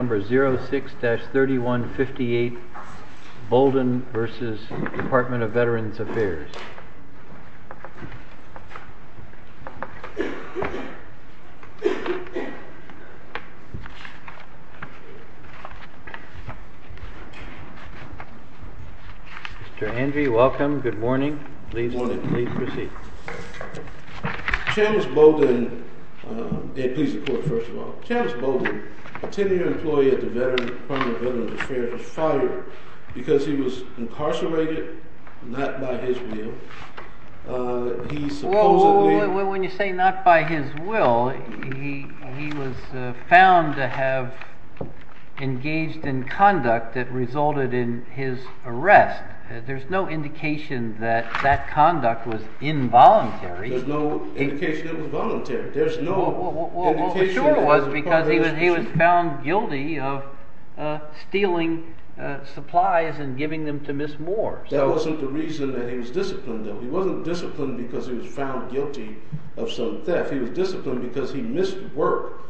Number 06-3158, Bolden v. Department of Veterans Affairs. Mr. Andrew, welcome. Good morning. Please proceed. Channis Bolden, a tenure employee at the Department of Veterans Affairs, was fired because he was incarcerated not by his will. There's no indication that it was voluntary. There's no indication that it was voluntary. That wasn't the reason that he was disciplined, though. He wasn't disciplined because he was found guilty of some theft. He was disciplined because he missed work.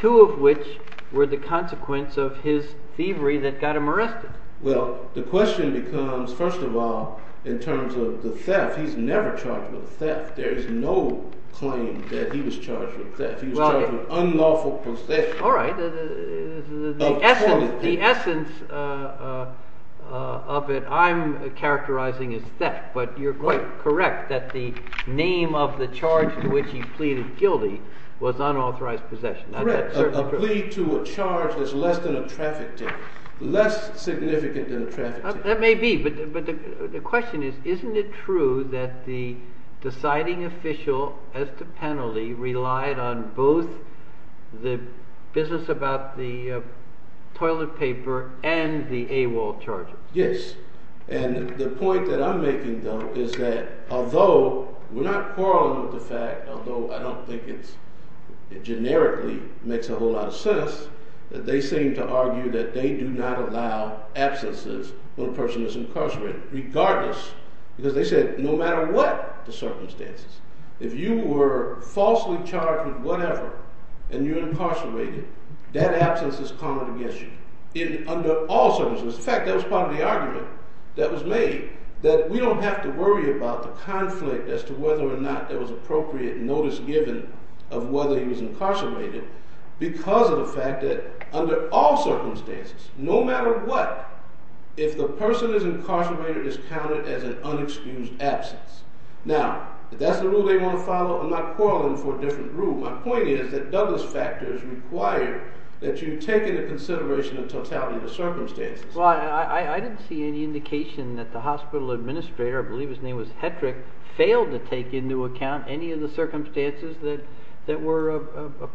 Two of which were the consequence of his thievery that got him arrested. Well, the question becomes, first of all, in terms of the theft, he's never charged with theft. There's no claim that he was charged with theft. He was charged with unlawful possession. All right. The essence of it I'm characterizing as theft, but you're quite correct that the name of the charge to which he pleaded guilty was unauthorized possession. Correct. A plea to a charge is less than a traffic theft. Less significant than a traffic theft. That may be, but the question is, isn't it true that the deciding official as to penalty relied on both the business about the toilet paper and the AWOL charges? Yes, and the point that I'm making, though, is that although we're not quarreling with the fact, although I don't think it generically makes a whole lot of sense, that they seem to argue that they do not allow absences when a person is incarcerated, regardless, because they said no matter what the circumstances. If you were falsely charged with whatever and you're incarcerated, that absence is common against you under all circumstances. In fact, that was part of the argument that was made, that we don't have to worry about the conflict as to whether or not there was appropriate notice given of whether he was incarcerated because of the fact that under all circumstances, no matter what, if the person is incarcerated, it's counted as an unexcused absence. Now, if that's the rule they want to follow, I'm not quarreling for a different rule. My point is that Douglas factors require that you take into consideration the totality of the circumstances. Well, I didn't see any indication that the hospital administrator, I believe his name was Hetrick, failed to take into account any of the circumstances that were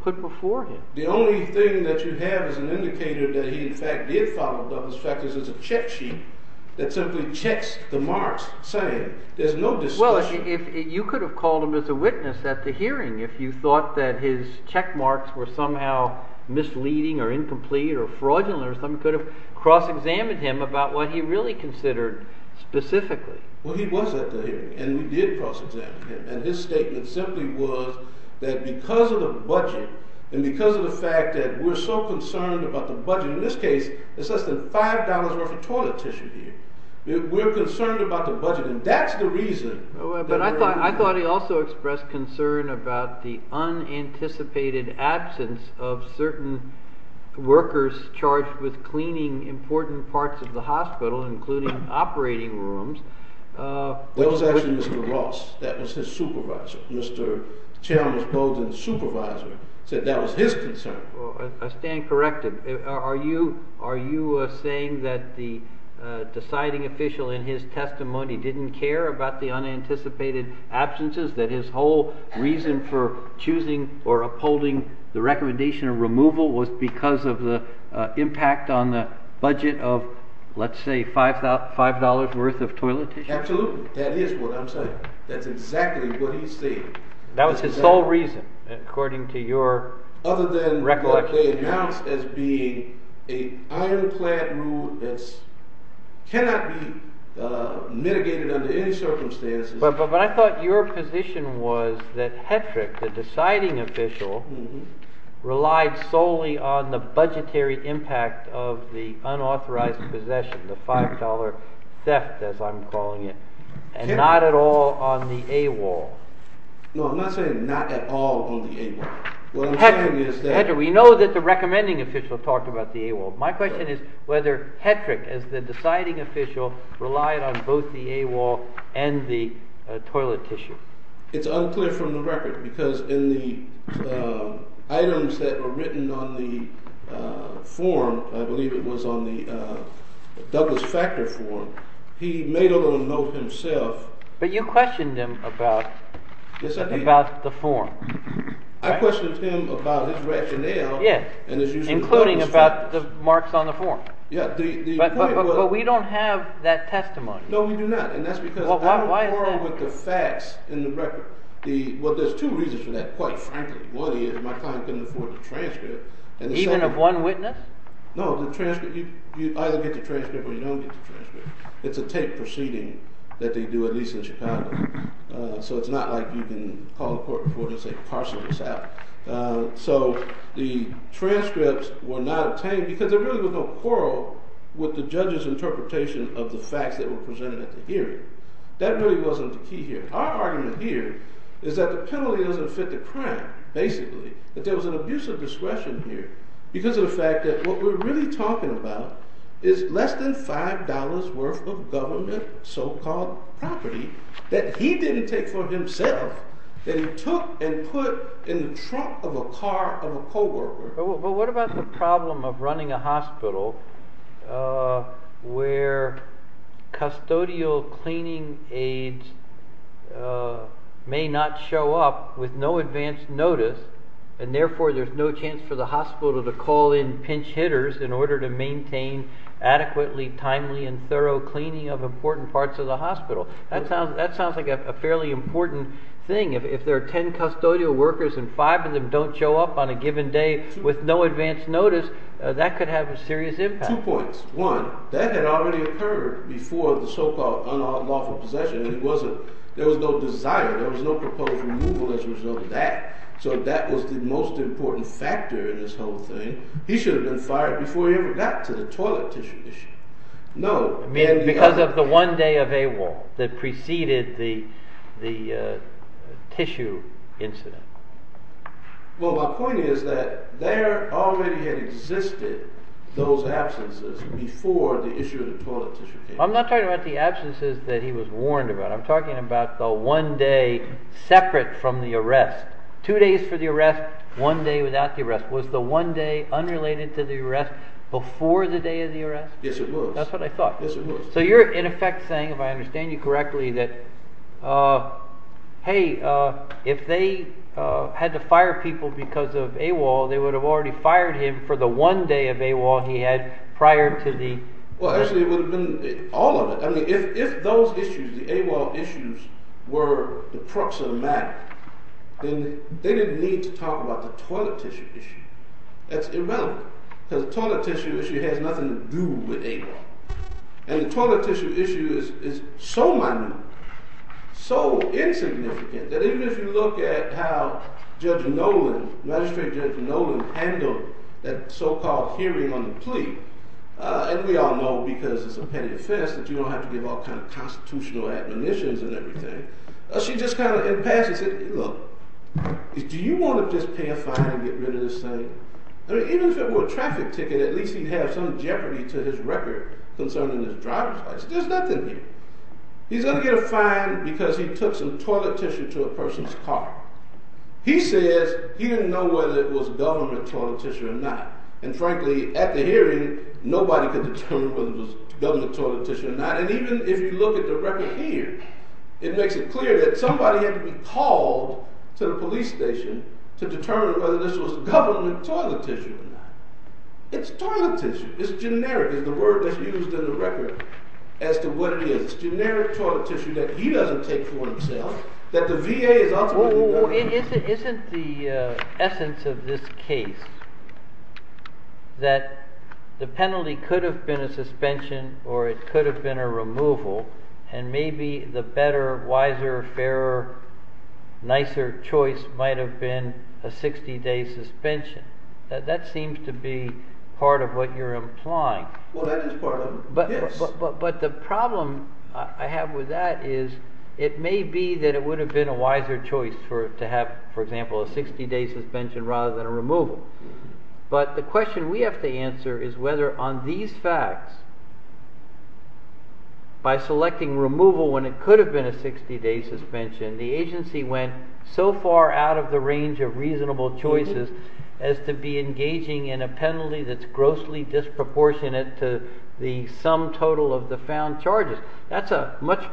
put before him. The only thing that you have as an indicator that he, in fact, did follow Douglas factors is a check sheet that simply checks the marks saying there's no discussion. Well, you could have called him as a witness at the hearing if you thought that his check marks were somehow misleading or incomplete or fraudulent or something. You could have cross-examined him about what he really considered specifically. Well, he was at the hearing, and we did cross-examine him. And his statement simply was that because of the budget and because of the fact that we're so concerned about the budget, in this case, it's less than $5 worth of toilet tissue here. We're concerned about the budget, and that's the reason. But I thought he also expressed concern about the unanticipated absence of certain workers charged with cleaning important parts of the hospital, including operating rooms. That was actually Mr. Ross. That was his supervisor. Mr. Chairman's closing supervisor said that was his concern. I stand corrected. Are you saying that the deciding official in his testimony didn't care about the unanticipated absences, that his whole reason for choosing or upholding the recommendation of removal was because of the impact on the budget of, let's say, $5 worth of toilet tissue? Absolutely. That is what I'm saying. That's exactly what he's saying. That was his sole reason, according to your recollection. Other than what they announced as being an ironclad rule that cannot be mitigated under any circumstances. But I thought your position was that Hetrick, the deciding official, relied solely on the budgetary impact of the unauthorized possession, the $5 theft as I'm calling it, and not at all on the AWOL. No, I'm not saying not at all on the AWOL. Hetrick, we know that the recommending official talked about the AWOL. My question is whether Hetrick, as the deciding official, relied on both the AWOL and the toilet tissue. It's unclear from the record because in the items that were written on the form, I believe it was on the Douglas Factor form, he made a little note himself. But you questioned him about the form. I questioned him about his rationale. Including about the marks on the form. But we don't have that testimony. No, we do not. And that's because I don't quarrel with the facts in the record. Well, there's two reasons for that, quite frankly. One is my client couldn't afford the transcript. Even of one witness? No, you either get the transcript or you don't get the transcript. It's a taped proceeding that they do, at least in Chicago. So it's not like you can call a court reporter and say, parcel this out. So the transcripts were not obtained because there really was no quarrel with the judge's interpretation of the facts that were presented at the hearing. That really wasn't the key here. Our argument here is that the penalty doesn't fit the crime, basically. That there was an abuse of discretion here because of the fact that what we're really talking about is less than $5 worth of government so-called property that he didn't take for himself. That he took and put in the trunk of a car of a co-worker. But what about the problem of running a hospital where custodial cleaning aides may not show up with no advance notice, and therefore there's no chance for the hospital to call in pinch hitters in order to maintain adequately timely and thorough cleaning of important parts of the hospital? That sounds like a fairly important thing. If there are 10 custodial workers and five of them don't show up on a given day with no advance notice, that could have a serious impact. Two points. One, that had already occurred before the so-called unlawful possession. There was no desire. There was no proposed removal as a result of that. So that was the most important factor in this whole thing. He should have been fired before he ever got to the toilet tissue issue. No. Because of the one day of AWOL that preceded the tissue incident. Well, my point is that there already had existed those absences before the issue of the toilet tissue came up. I'm not talking about the absences that he was warned about. I'm talking about the one day separate from the arrest. Two days for the arrest, one day without the arrest. Yes, it was. That's what I thought. Yes, it was. So you're, in effect, saying, if I understand you correctly, that hey, if they had to fire people because of AWOL, they would have already fired him for the one day of AWOL he had prior to the… Well, actually, it would have been all of it. I mean, if those issues, the AWOL issues, were the crux of the matter, then they didn't need to talk about the toilet tissue issue. That's irrelevant. Because the toilet tissue issue has nothing to do with AWOL. And the toilet tissue issue is so minute, so insignificant, that even if you look at how Judge Nolan, Magistrate Judge Nolan, handled that so-called hearing on the plea, and we all know because it's a petty offense that you don't have to give all kinds of constitutional admonitions and everything, she just kind of, in passing, said, look, do you want to just pay a fine and get rid of this thing? I mean, even if it were a traffic ticket, at least he'd have some jeopardy to his record concerning his driver's license. There's nothing here. He's going to get a fine because he took some toilet tissue to a person's car. He says he didn't know whether it was government toilet tissue or not. And frankly, at the hearing, nobody could determine whether it was government toilet tissue or not. And even if you look at the record here, it makes it clear that somebody had to be called to the police station to determine whether this was government toilet tissue or not. It's toilet tissue. It's generic is the word that's used in the record as to what it is. It's generic toilet tissue that he doesn't take for himself, that the VA is ultimately going to… So isn't the essence of this case that the penalty could have been a suspension or it could have been a removal, and maybe the better, wiser, fairer, nicer choice might have been a 60-day suspension? That seems to be part of what you're implying. Well, that is part of it, yes. But the problem I have with that is it may be that it would have been a wiser choice to have, for example, a 60-day suspension rather than a removal. But the question we have to answer is whether on these facts, by selecting removal when it could have been a 60-day suspension, the agency went so far out of the range of reasonable choices as to be engaging in a penalty that's grossly disproportionate to the sum total of the found charges. That's a much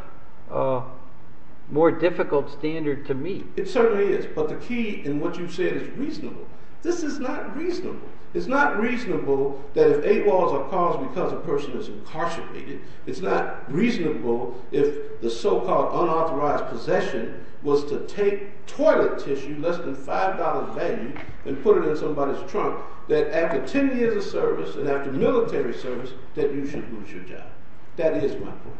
more difficult standard to meet. It certainly is. But the key in what you said is reasonable. This is not reasonable. It's not reasonable that if eight laws are caused because a person is incarcerated, it's not reasonable if the so-called unauthorized possession was to take toilet tissue less than $5 value and put it in somebody's trunk, that after 10 years of service and after military service, that you should lose your job. That is my point.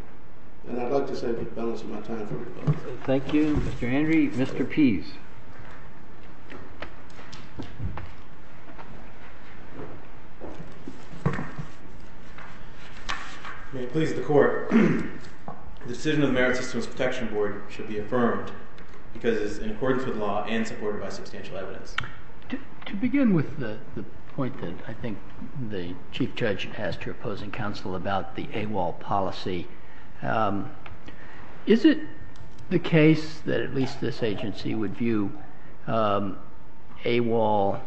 And I'd like to say I've been balancing my time very well. Thank you, Mr. Henry. Mr. Pease. May it please the Court. The decision of the Merit Systems Protection Board should be affirmed because it is in accordance with law and supported by substantial evidence. To begin with the point that I think the Chief Judge asked your opposing counsel about the AWOL policy, is it the case that at least this agency would view AWOL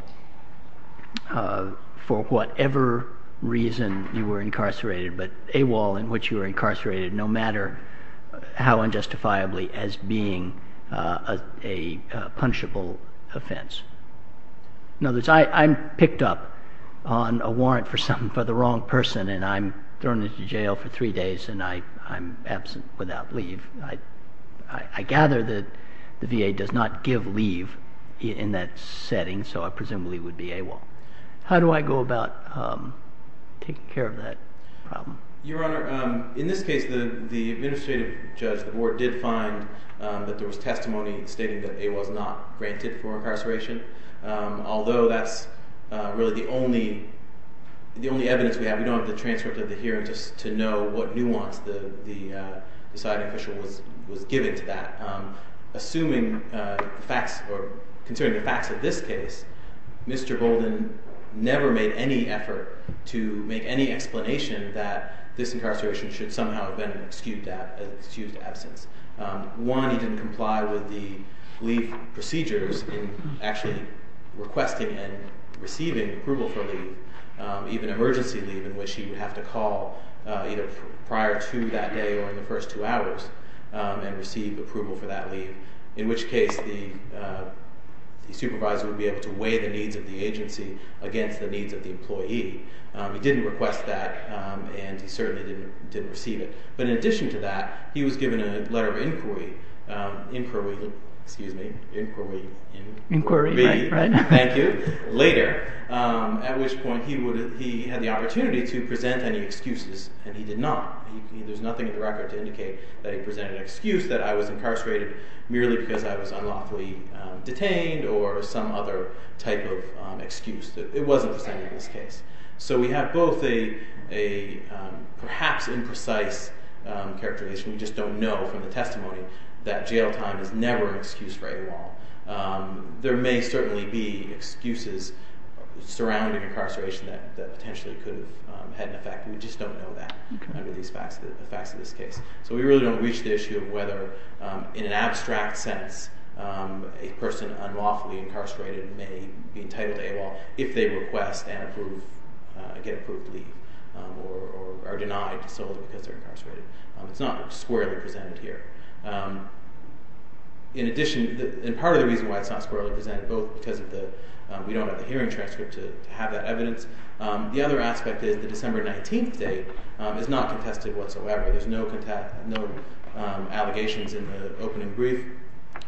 for whatever reason you were incarcerated, but AWOL in which you were incarcerated no matter how unjustifiably as being a punchable offense? In other words, I'm picked up on a warrant for the wrong person and I'm thrown into jail for three days and I'm absent without leave. I gather that the VA does not give leave in that setting, so I presume it would be AWOL. How do I go about taking care of that problem? Your Honor, in this case the administrative judge, the board, did find that there was testimony stating that AWOL is not granted for incarceration, although that's really the only evidence we have. We don't have the transcript of the hearing just to know what nuance the deciding official was giving to that. Assuming the facts, or considering the facts of this case, Mr. Bolden never made any effort to make any explanation that this incarceration should somehow have been an excused absence. One, he didn't comply with the leave procedures in actually requesting and receiving approval for leave, even emergency leave in which he would have to call either prior to that day or in the first two hours and receive approval for that leave, in which case the supervisor would be able to weigh the needs of the agency against the needs of the employee. He didn't request that and he certainly didn't receive it. But in addition to that, he was given a letter of inquiry later, at which point he had the opportunity to present any excuses and he did not. There's nothing in the record to indicate that he presented an excuse that I was incarcerated merely because I was unlawfully detained or some other type of excuse. It wasn't presented in this case. So we have both a perhaps imprecise characterization, we just don't know from the testimony, that jail time is never excused for AWOL. There may certainly be excuses surrounding incarceration that potentially could have had an effect, we just don't know that under the facts of this case. So we really don't reach the issue of whether in an abstract sense a person unlawfully incarcerated may be entitled to AWOL if they request and get approved leave or are denied solely because they're incarcerated. It's not squarely presented here. In addition, and part of the reason why it's not squarely presented, both because we don't have the hearing transcript to have that evidence, the other aspect is the December 19th date is not contested whatsoever. There's no allegations in the opening brief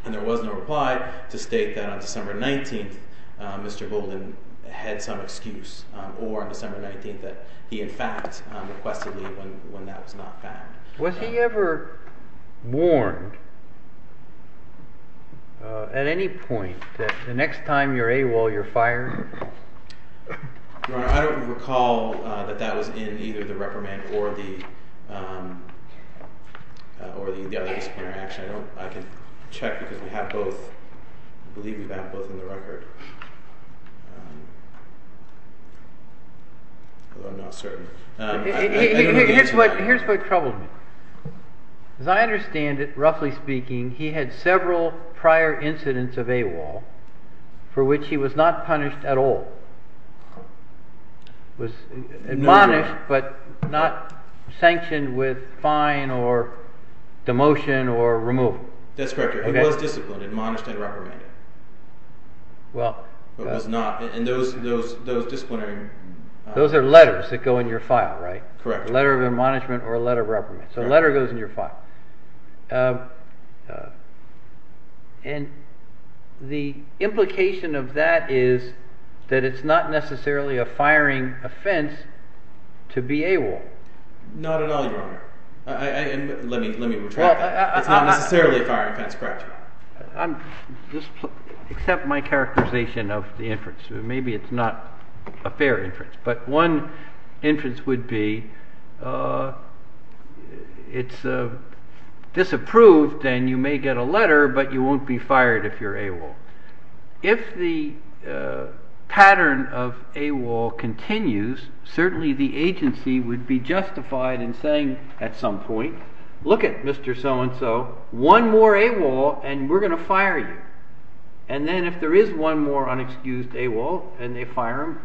and there was no reply to state that on December 19th Mr. Golden had some excuse or on December 19th that he in fact requested leave when that was not found. Was he ever warned at any point that the next time you're AWOL you're fired? Your Honor, I don't recall that that was in either the reprimand or the other disciplinary action. I can check because we have both, I believe we have both in the record, although I'm not certain. Here's what troubles me. As I understand it, roughly speaking, he had several prior incidents of AWOL for which he was not punished at all. He was admonished but not sanctioned with fine or demotion or removal. That's correct, he was disciplined, admonished and reprimanded. Those are letters that go in your file, right? A letter of admonishment or a letter of reprimand, so a letter goes in your file. The implication of that is that it's not necessarily a firing offense to be AWOL. Not at all, Your Honor. Let me retract that. It's not necessarily a firing offense, correct. Accept my characterization of the inference. Maybe it's not a fair inference, but one inference would be it's disapproved and you may get a letter but you won't be fired if you're AWOL. If the pattern of AWOL continues, certainly the agency would be justified in saying at some point, look at Mr. So-and-so, one more AWOL and we're going to fire you. And then if there is one more unexcused AWOL and they fire him,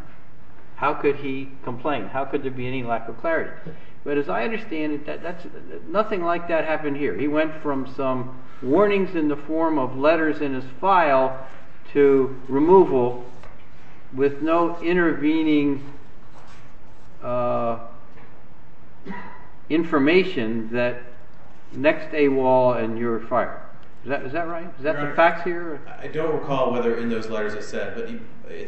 how could he complain? How could there be any lack of clarity? But as I understand it, nothing like that happened here. He went from some warnings in the form of letters in his file to removal with no intervening information that next AWOL and you're fired. Is that right? Is that the facts here? I don't recall whether in those letters it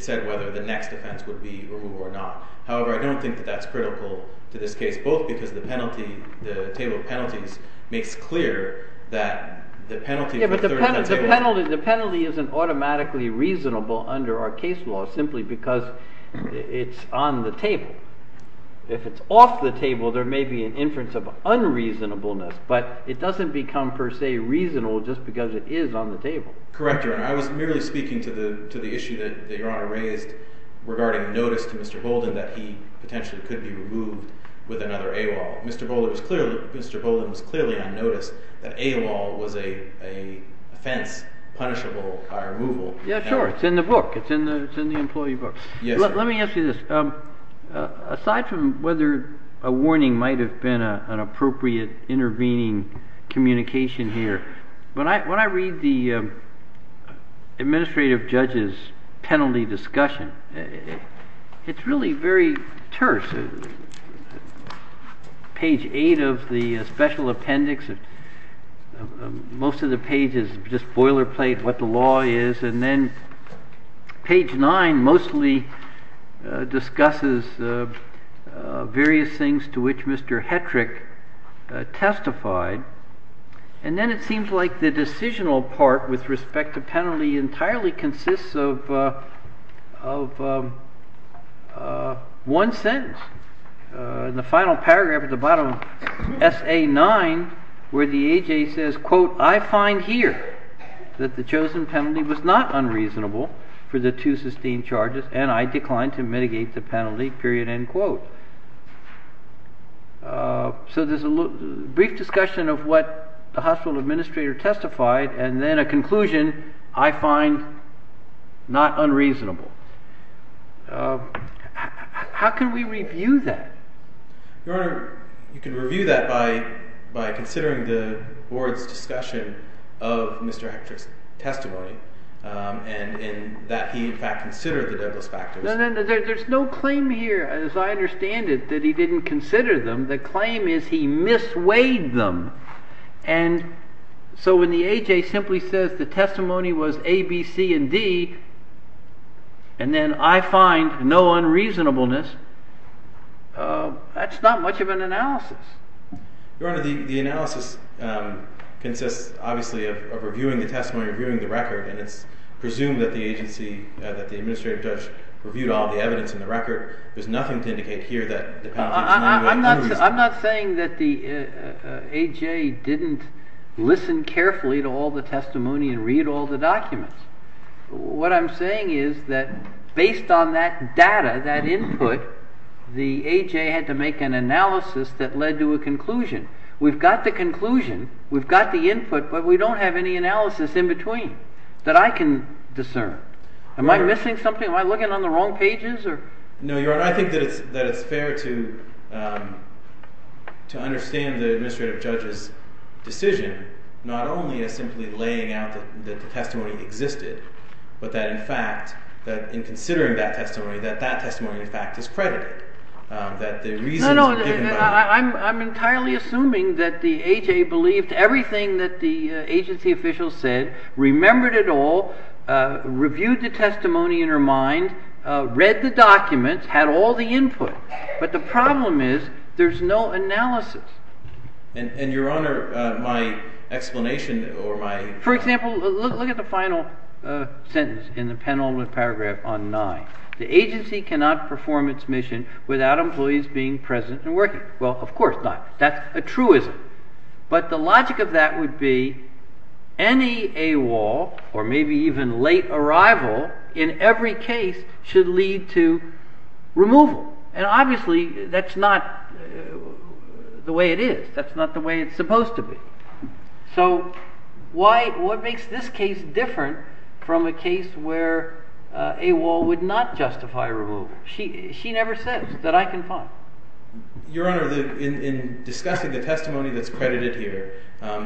said whether the next offense would be AWOL or not. However, I don't think that that's critical to this case, both because the penalty, the table of penalties makes clear that the penalty. But the penalty isn't automatically reasonable under our case law simply because it's on the table. If it's off the table, there may be an inference of unreasonableness, but it doesn't become per se reasonable just because it is on the table. Correct, Your Honor. I was merely speaking to the issue that Your Honor raised regarding notice to Mr. Bolden that he potentially could be removed with another AWOL. Mr. Bolden was clearly on notice that AWOL was a offense punishable by removal. Yeah, sure. It's in the book. It's in the employee book. Let me ask you this. Aside from whether a warning might have been an appropriate intervening communication here, when I read the administrative judge's penalty discussion, it's really very terse. Page eight of the special appendix, most of the page is just boilerplate what the law is, and then page nine mostly discusses various things to which Mr. Hetrick testified. And then it seems like the decisional part with respect to penalty entirely consists of one sentence. The final paragraph at the bottom, S.A. 9, where the A.J. says, quote, I find here that the chosen penalty was not unreasonable for the two sustained charges, and I declined to mitigate the penalty, period, end quote. So there's a brief discussion of what the hospital administrator testified and then a conclusion, I find not unreasonable. How can we review that? Your Honor, you can review that by considering the board's discussion of Mr. Hetrick's testimony and that he in fact considered the Douglas factors. There's no claim here, as I understand it, that he didn't consider them. The claim is he misweighed them. And so when the A.J. simply says the testimony was A, B, C, and D, and then I find no unreasonableness, that's not much of an analysis. Your Honor, the analysis consists obviously of reviewing the testimony, reviewing the record, and it's presumed that the agency, that the administrative judge reviewed all the evidence in the record. There's nothing to indicate here that the penalty is not unreasonable. I'm not saying that the A.J. didn't listen carefully to all the testimony and read all the documents. What I'm saying is that based on that data, that input, the A.J. had to make an analysis that led to a conclusion. We've got the conclusion, we've got the input, but we don't have any analysis in between that I can discern. Am I missing something? Am I looking on the wrong pages? No, Your Honor. I think that it's fair to understand the administrative judge's decision, not only as simply laying out that the testimony existed, but that in fact, in considering that testimony, that that testimony in fact is credited, that the reasons were given by the judge. No, no. I'm entirely assuming that the A.J. believed everything that the agency official said, remembered it all, reviewed the testimony in her mind, read the documents, had all the input. But the problem is there's no analysis. And, Your Honor, my explanation or my… For example, look at the final sentence in the Penalty Paragraph on 9. The agency cannot perform its mission without employees being present and working. Well, of course not. That's a truism. But the logic of that would be any AWOL or maybe even late arrival in every case should lead to removal. And obviously that's not the way it is. That's not the way it's supposed to be. So what makes this case different from a case where AWOL would not justify removal? She never says that I can find. Your Honor, in discussing the testimony that's credited here,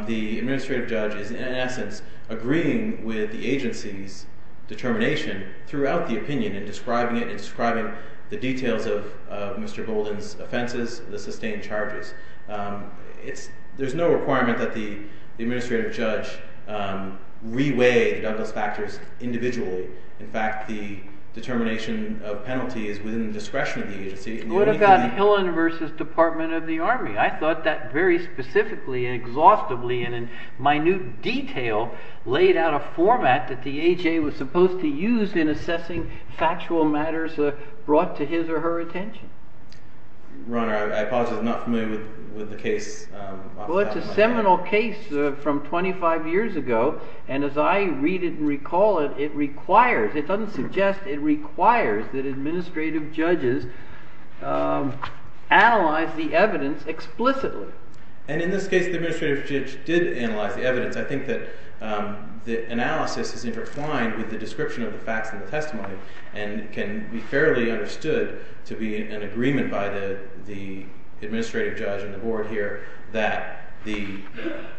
the administrative judge is in essence agreeing with the agency's determination throughout the opinion in describing it and describing the details of Mr. Bolden's offenses, the sustained charges. There's no requirement that the administrative judge re-weigh the Douglas factors individually. In fact, the determination of penalty is within the discretion of the agency. What about the Hillenversus Department of the Army? I thought that very specifically and exhaustively and in minute detail laid out a format that the A.J. was supposed to use in assessing factual matters brought to his or her attention. Your Honor, I apologize. I'm not familiar with the case. Well, it's a seminal case from 25 years ago, and as I read it and recall it, it doesn't suggest it requires that administrative judges analyze the evidence explicitly. And in this case, the administrative judge did analyze the evidence. I think that the analysis is intertwined with the description of the facts in the testimony and can be fairly understood to be an agreement by the administrative judge and the board here that the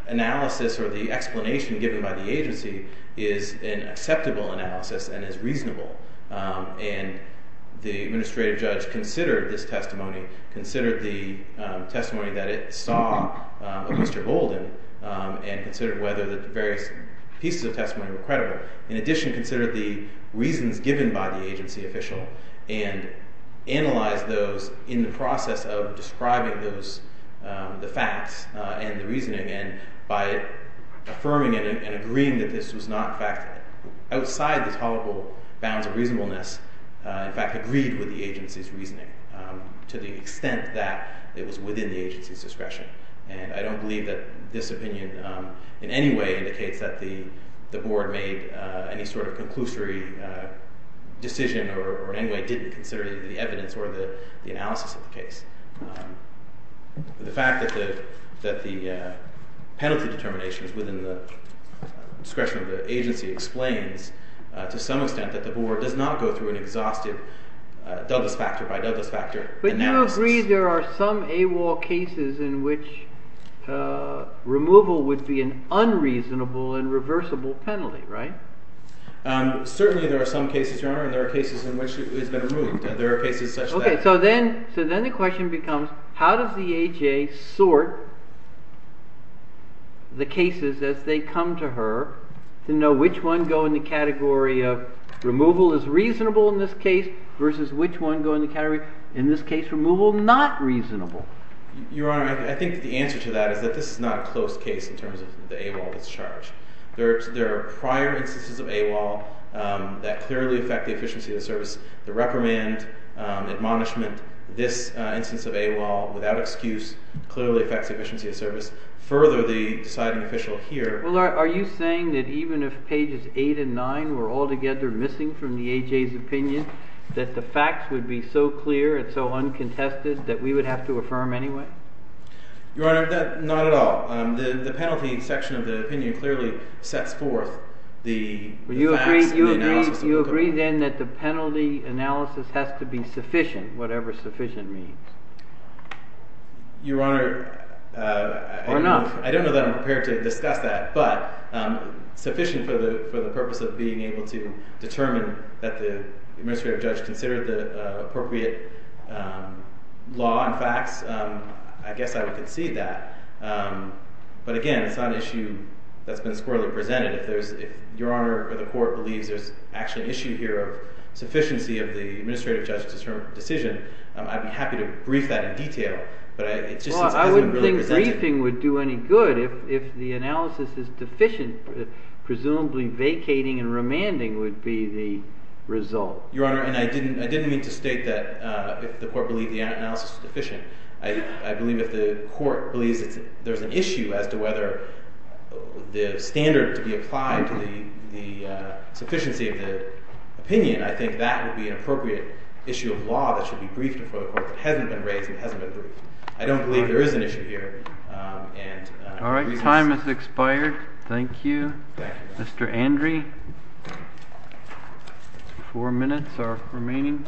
analysis or the explanation given by the agency is an acceptable analysis and is reasonable. And the administrative judge considered this testimony, considered the testimony that it saw of Mr. Bolden and considered whether the various pieces of testimony were credible. In addition, considered the reasons given by the agency official and analyzed those in the process of describing the facts and the reasoning and by affirming it and agreeing that this was not fact outside the tolerable bounds of reasonableness, in fact, agreed with the agency's reasoning to the extent that it was within the agency's discretion. And I don't believe that this opinion in any way indicates that the board made any sort of conclusory decision or in any way didn't consider the evidence or the analysis of the case. The fact that the penalty determination is within the discretion of the agency explains to some extent that the board does not go through an exhaustive Douglas factor by Douglas factor analysis. But you agree there are some AWOL cases in which removal would be an unreasonable and reversible penalty, right? Certainly there are some cases, Your Honor, and there are cases in which it's been removed. There are cases such that... Okay. So then the question becomes, how does the AHA sort the cases as they come to her to know which one go in the category of removal is reasonable in this case versus which one go in the category, in this case, removal not reasonable? Your Honor, I think the answer to that is that this is not a close case in terms of the AWOL's charge. There are prior instances of AWOL that clearly affect the efficiency of the service. The reprimand, admonishment, this instance of AWOL without excuse clearly affects the efficiency of service. Further, the deciding official here... Well, are you saying that even if pages 8 and 9 were altogether missing from the AJ's opinion, that the facts would be so clear and so uncontested that we would have to affirm anyway? Your Honor, not at all. The penalty section of the opinion clearly sets forth the facts and the analysis... You agree then that the penalty analysis has to be sufficient, whatever sufficient means? Your Honor... Or not. I don't know that I'm prepared to discuss that, but sufficient for the purpose of being able to determine that the administrative judge considered the appropriate law and facts, I guess I would concede that. But again, it's not an issue that's been squarely presented. If Your Honor or the Court believes there's actually an issue here of sufficiency of the administrative judge's decision, I'd be happy to brief that in detail, but it just hasn't been presented... Well, I wouldn't think briefing would do any good. If the analysis is deficient, presumably vacating and remanding would be the result. Your Honor, and I didn't mean to state that the Court believed the analysis was deficient. I believe if the Court believes there's an issue as to whether the standard to be applied to the sufficiency of the opinion, I think that would be an appropriate issue of law that should be briefed before the Court that hasn't been raised and hasn't been briefed. I don't believe there is an issue here. All right. Time has expired. Thank you, Mr. Andree. Four minutes are remaining.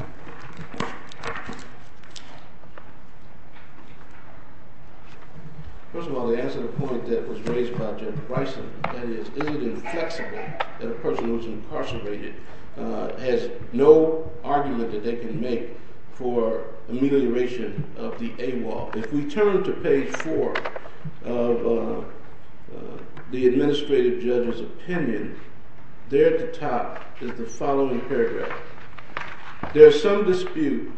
First of all, to answer the point that was raised by Judge Bryson, that is, is it inflexible that a person who is incarcerated has no argument that they can make for amelioration of the AWOL? If we turn to page 4 of the administrative judge's opinion, there at the top is the following paragraph. There's some dispute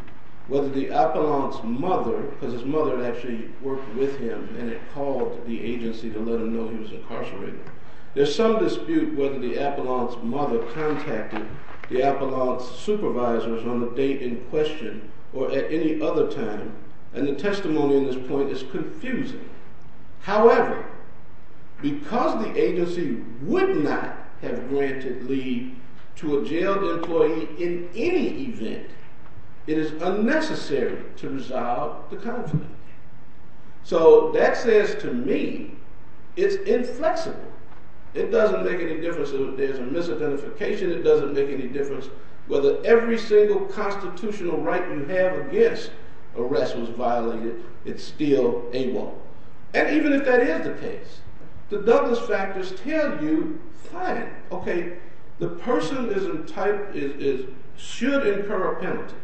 whether the appellant's mother, because his mother had actually worked with him and had called the agency to let him know he was incarcerated. There's some dispute whether the appellant's mother contacted the appellant's supervisors on the date in question or at any other time, and the testimony in this point is confusing. However, because the agency would not have granted leave to a jailed employee in any event, it is unnecessary to resolve the conflict. So that says to me it's inflexible. It doesn't make any difference if there's a misidentification. It doesn't make any difference whether every single constitutional right you have against arrest was violated. It's still AWOL. And even if that is the case, the Douglas factors tell you, fine, okay, the person should incur a penalty.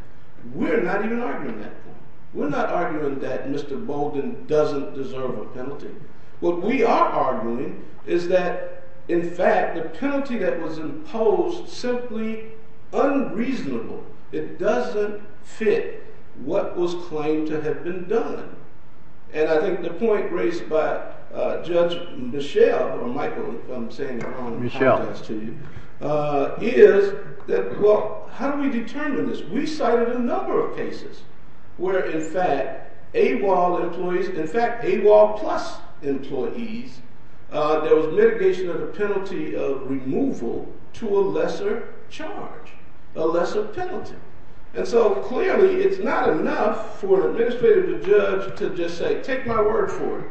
We're not even arguing that point. We're not arguing that Mr. Bolden doesn't deserve a penalty. What we are arguing is that, in fact, the penalty that was imposed simply unreasonable. It doesn't fit what was claimed to have been done. And I think the point raised by Judge Michel, or Michael, I'm saying it on context to you, is that, well, how do we determine this? We cited a number of cases where, in fact, AWOL employees, in fact, AWOL plus employees, there was mitigation of the penalty of removal to a lesser charge, a lesser penalty. And so, clearly, it's not enough for an administrative judge to just say, take my word for it.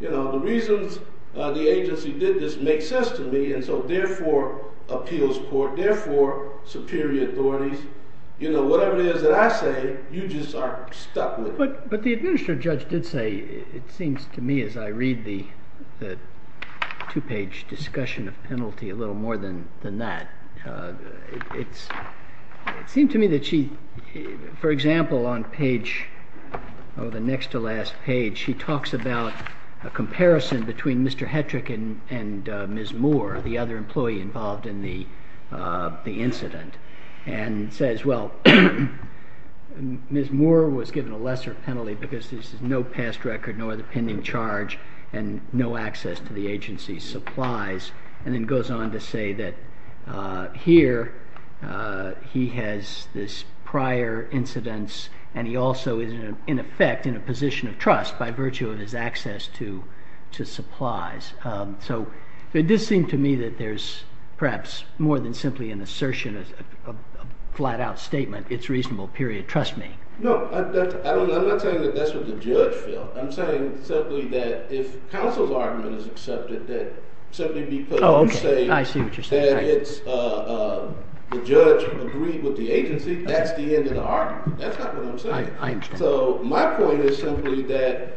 You know, the reasons the agency did this make sense to me, and so, therefore, appeals court, therefore, superior authorities, you know, whatever it is that I say, you just are stuck with it. But the administrative judge did say, it seems to me as I read the two-page discussion of penalty, a little more than that. It seemed to me that she, for example, on page, oh, the next to last page, she talks about a comparison between Mr. Hetrick and Ms. Moore, the other employee involved in the incident. And says, well, Ms. Moore was given a lesser penalty because there's no past record nor the pending charge and no access to the agency's supplies. And then goes on to say that here he has this prior incidence and he also is, in effect, in a position of trust by virtue of his access to supplies. So it does seem to me that there's perhaps more than simply an assertion, a flat-out statement, it's reasonable, period, trust me. No, I'm not saying that that's what the judge felt. I'm saying simply that if counsel's argument is accepted, that simply because you say that the judge agreed with the agency, that's the end of the argument. That's not what I'm saying. So my point is simply that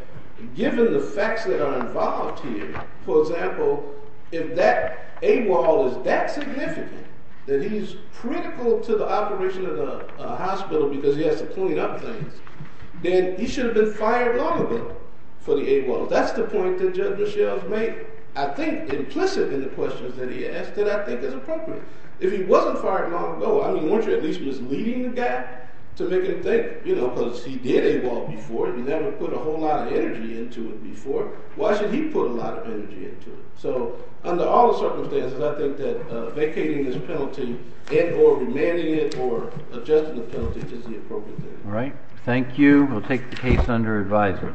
given the facts that are involved here, for example, if that AWOL is that significant, that he's critical to the operation of the hospital because he has to clean up things, then he should have been fired long ago for the AWOL. That's the point that Judge Michel has made, I think, implicit in the questions that he asked that I think is appropriate. If he wasn't fired long ago, I mean, weren't you at least misleading the guy to make him think? You know, because he did AWOL before. He never put a whole lot of energy into it before. Why should he put a lot of energy into it? So under all the circumstances, I think that vacating this penalty and or remanding it or adjusting the penalty is the appropriate thing. All right. Thank you. We'll take the case under advisory.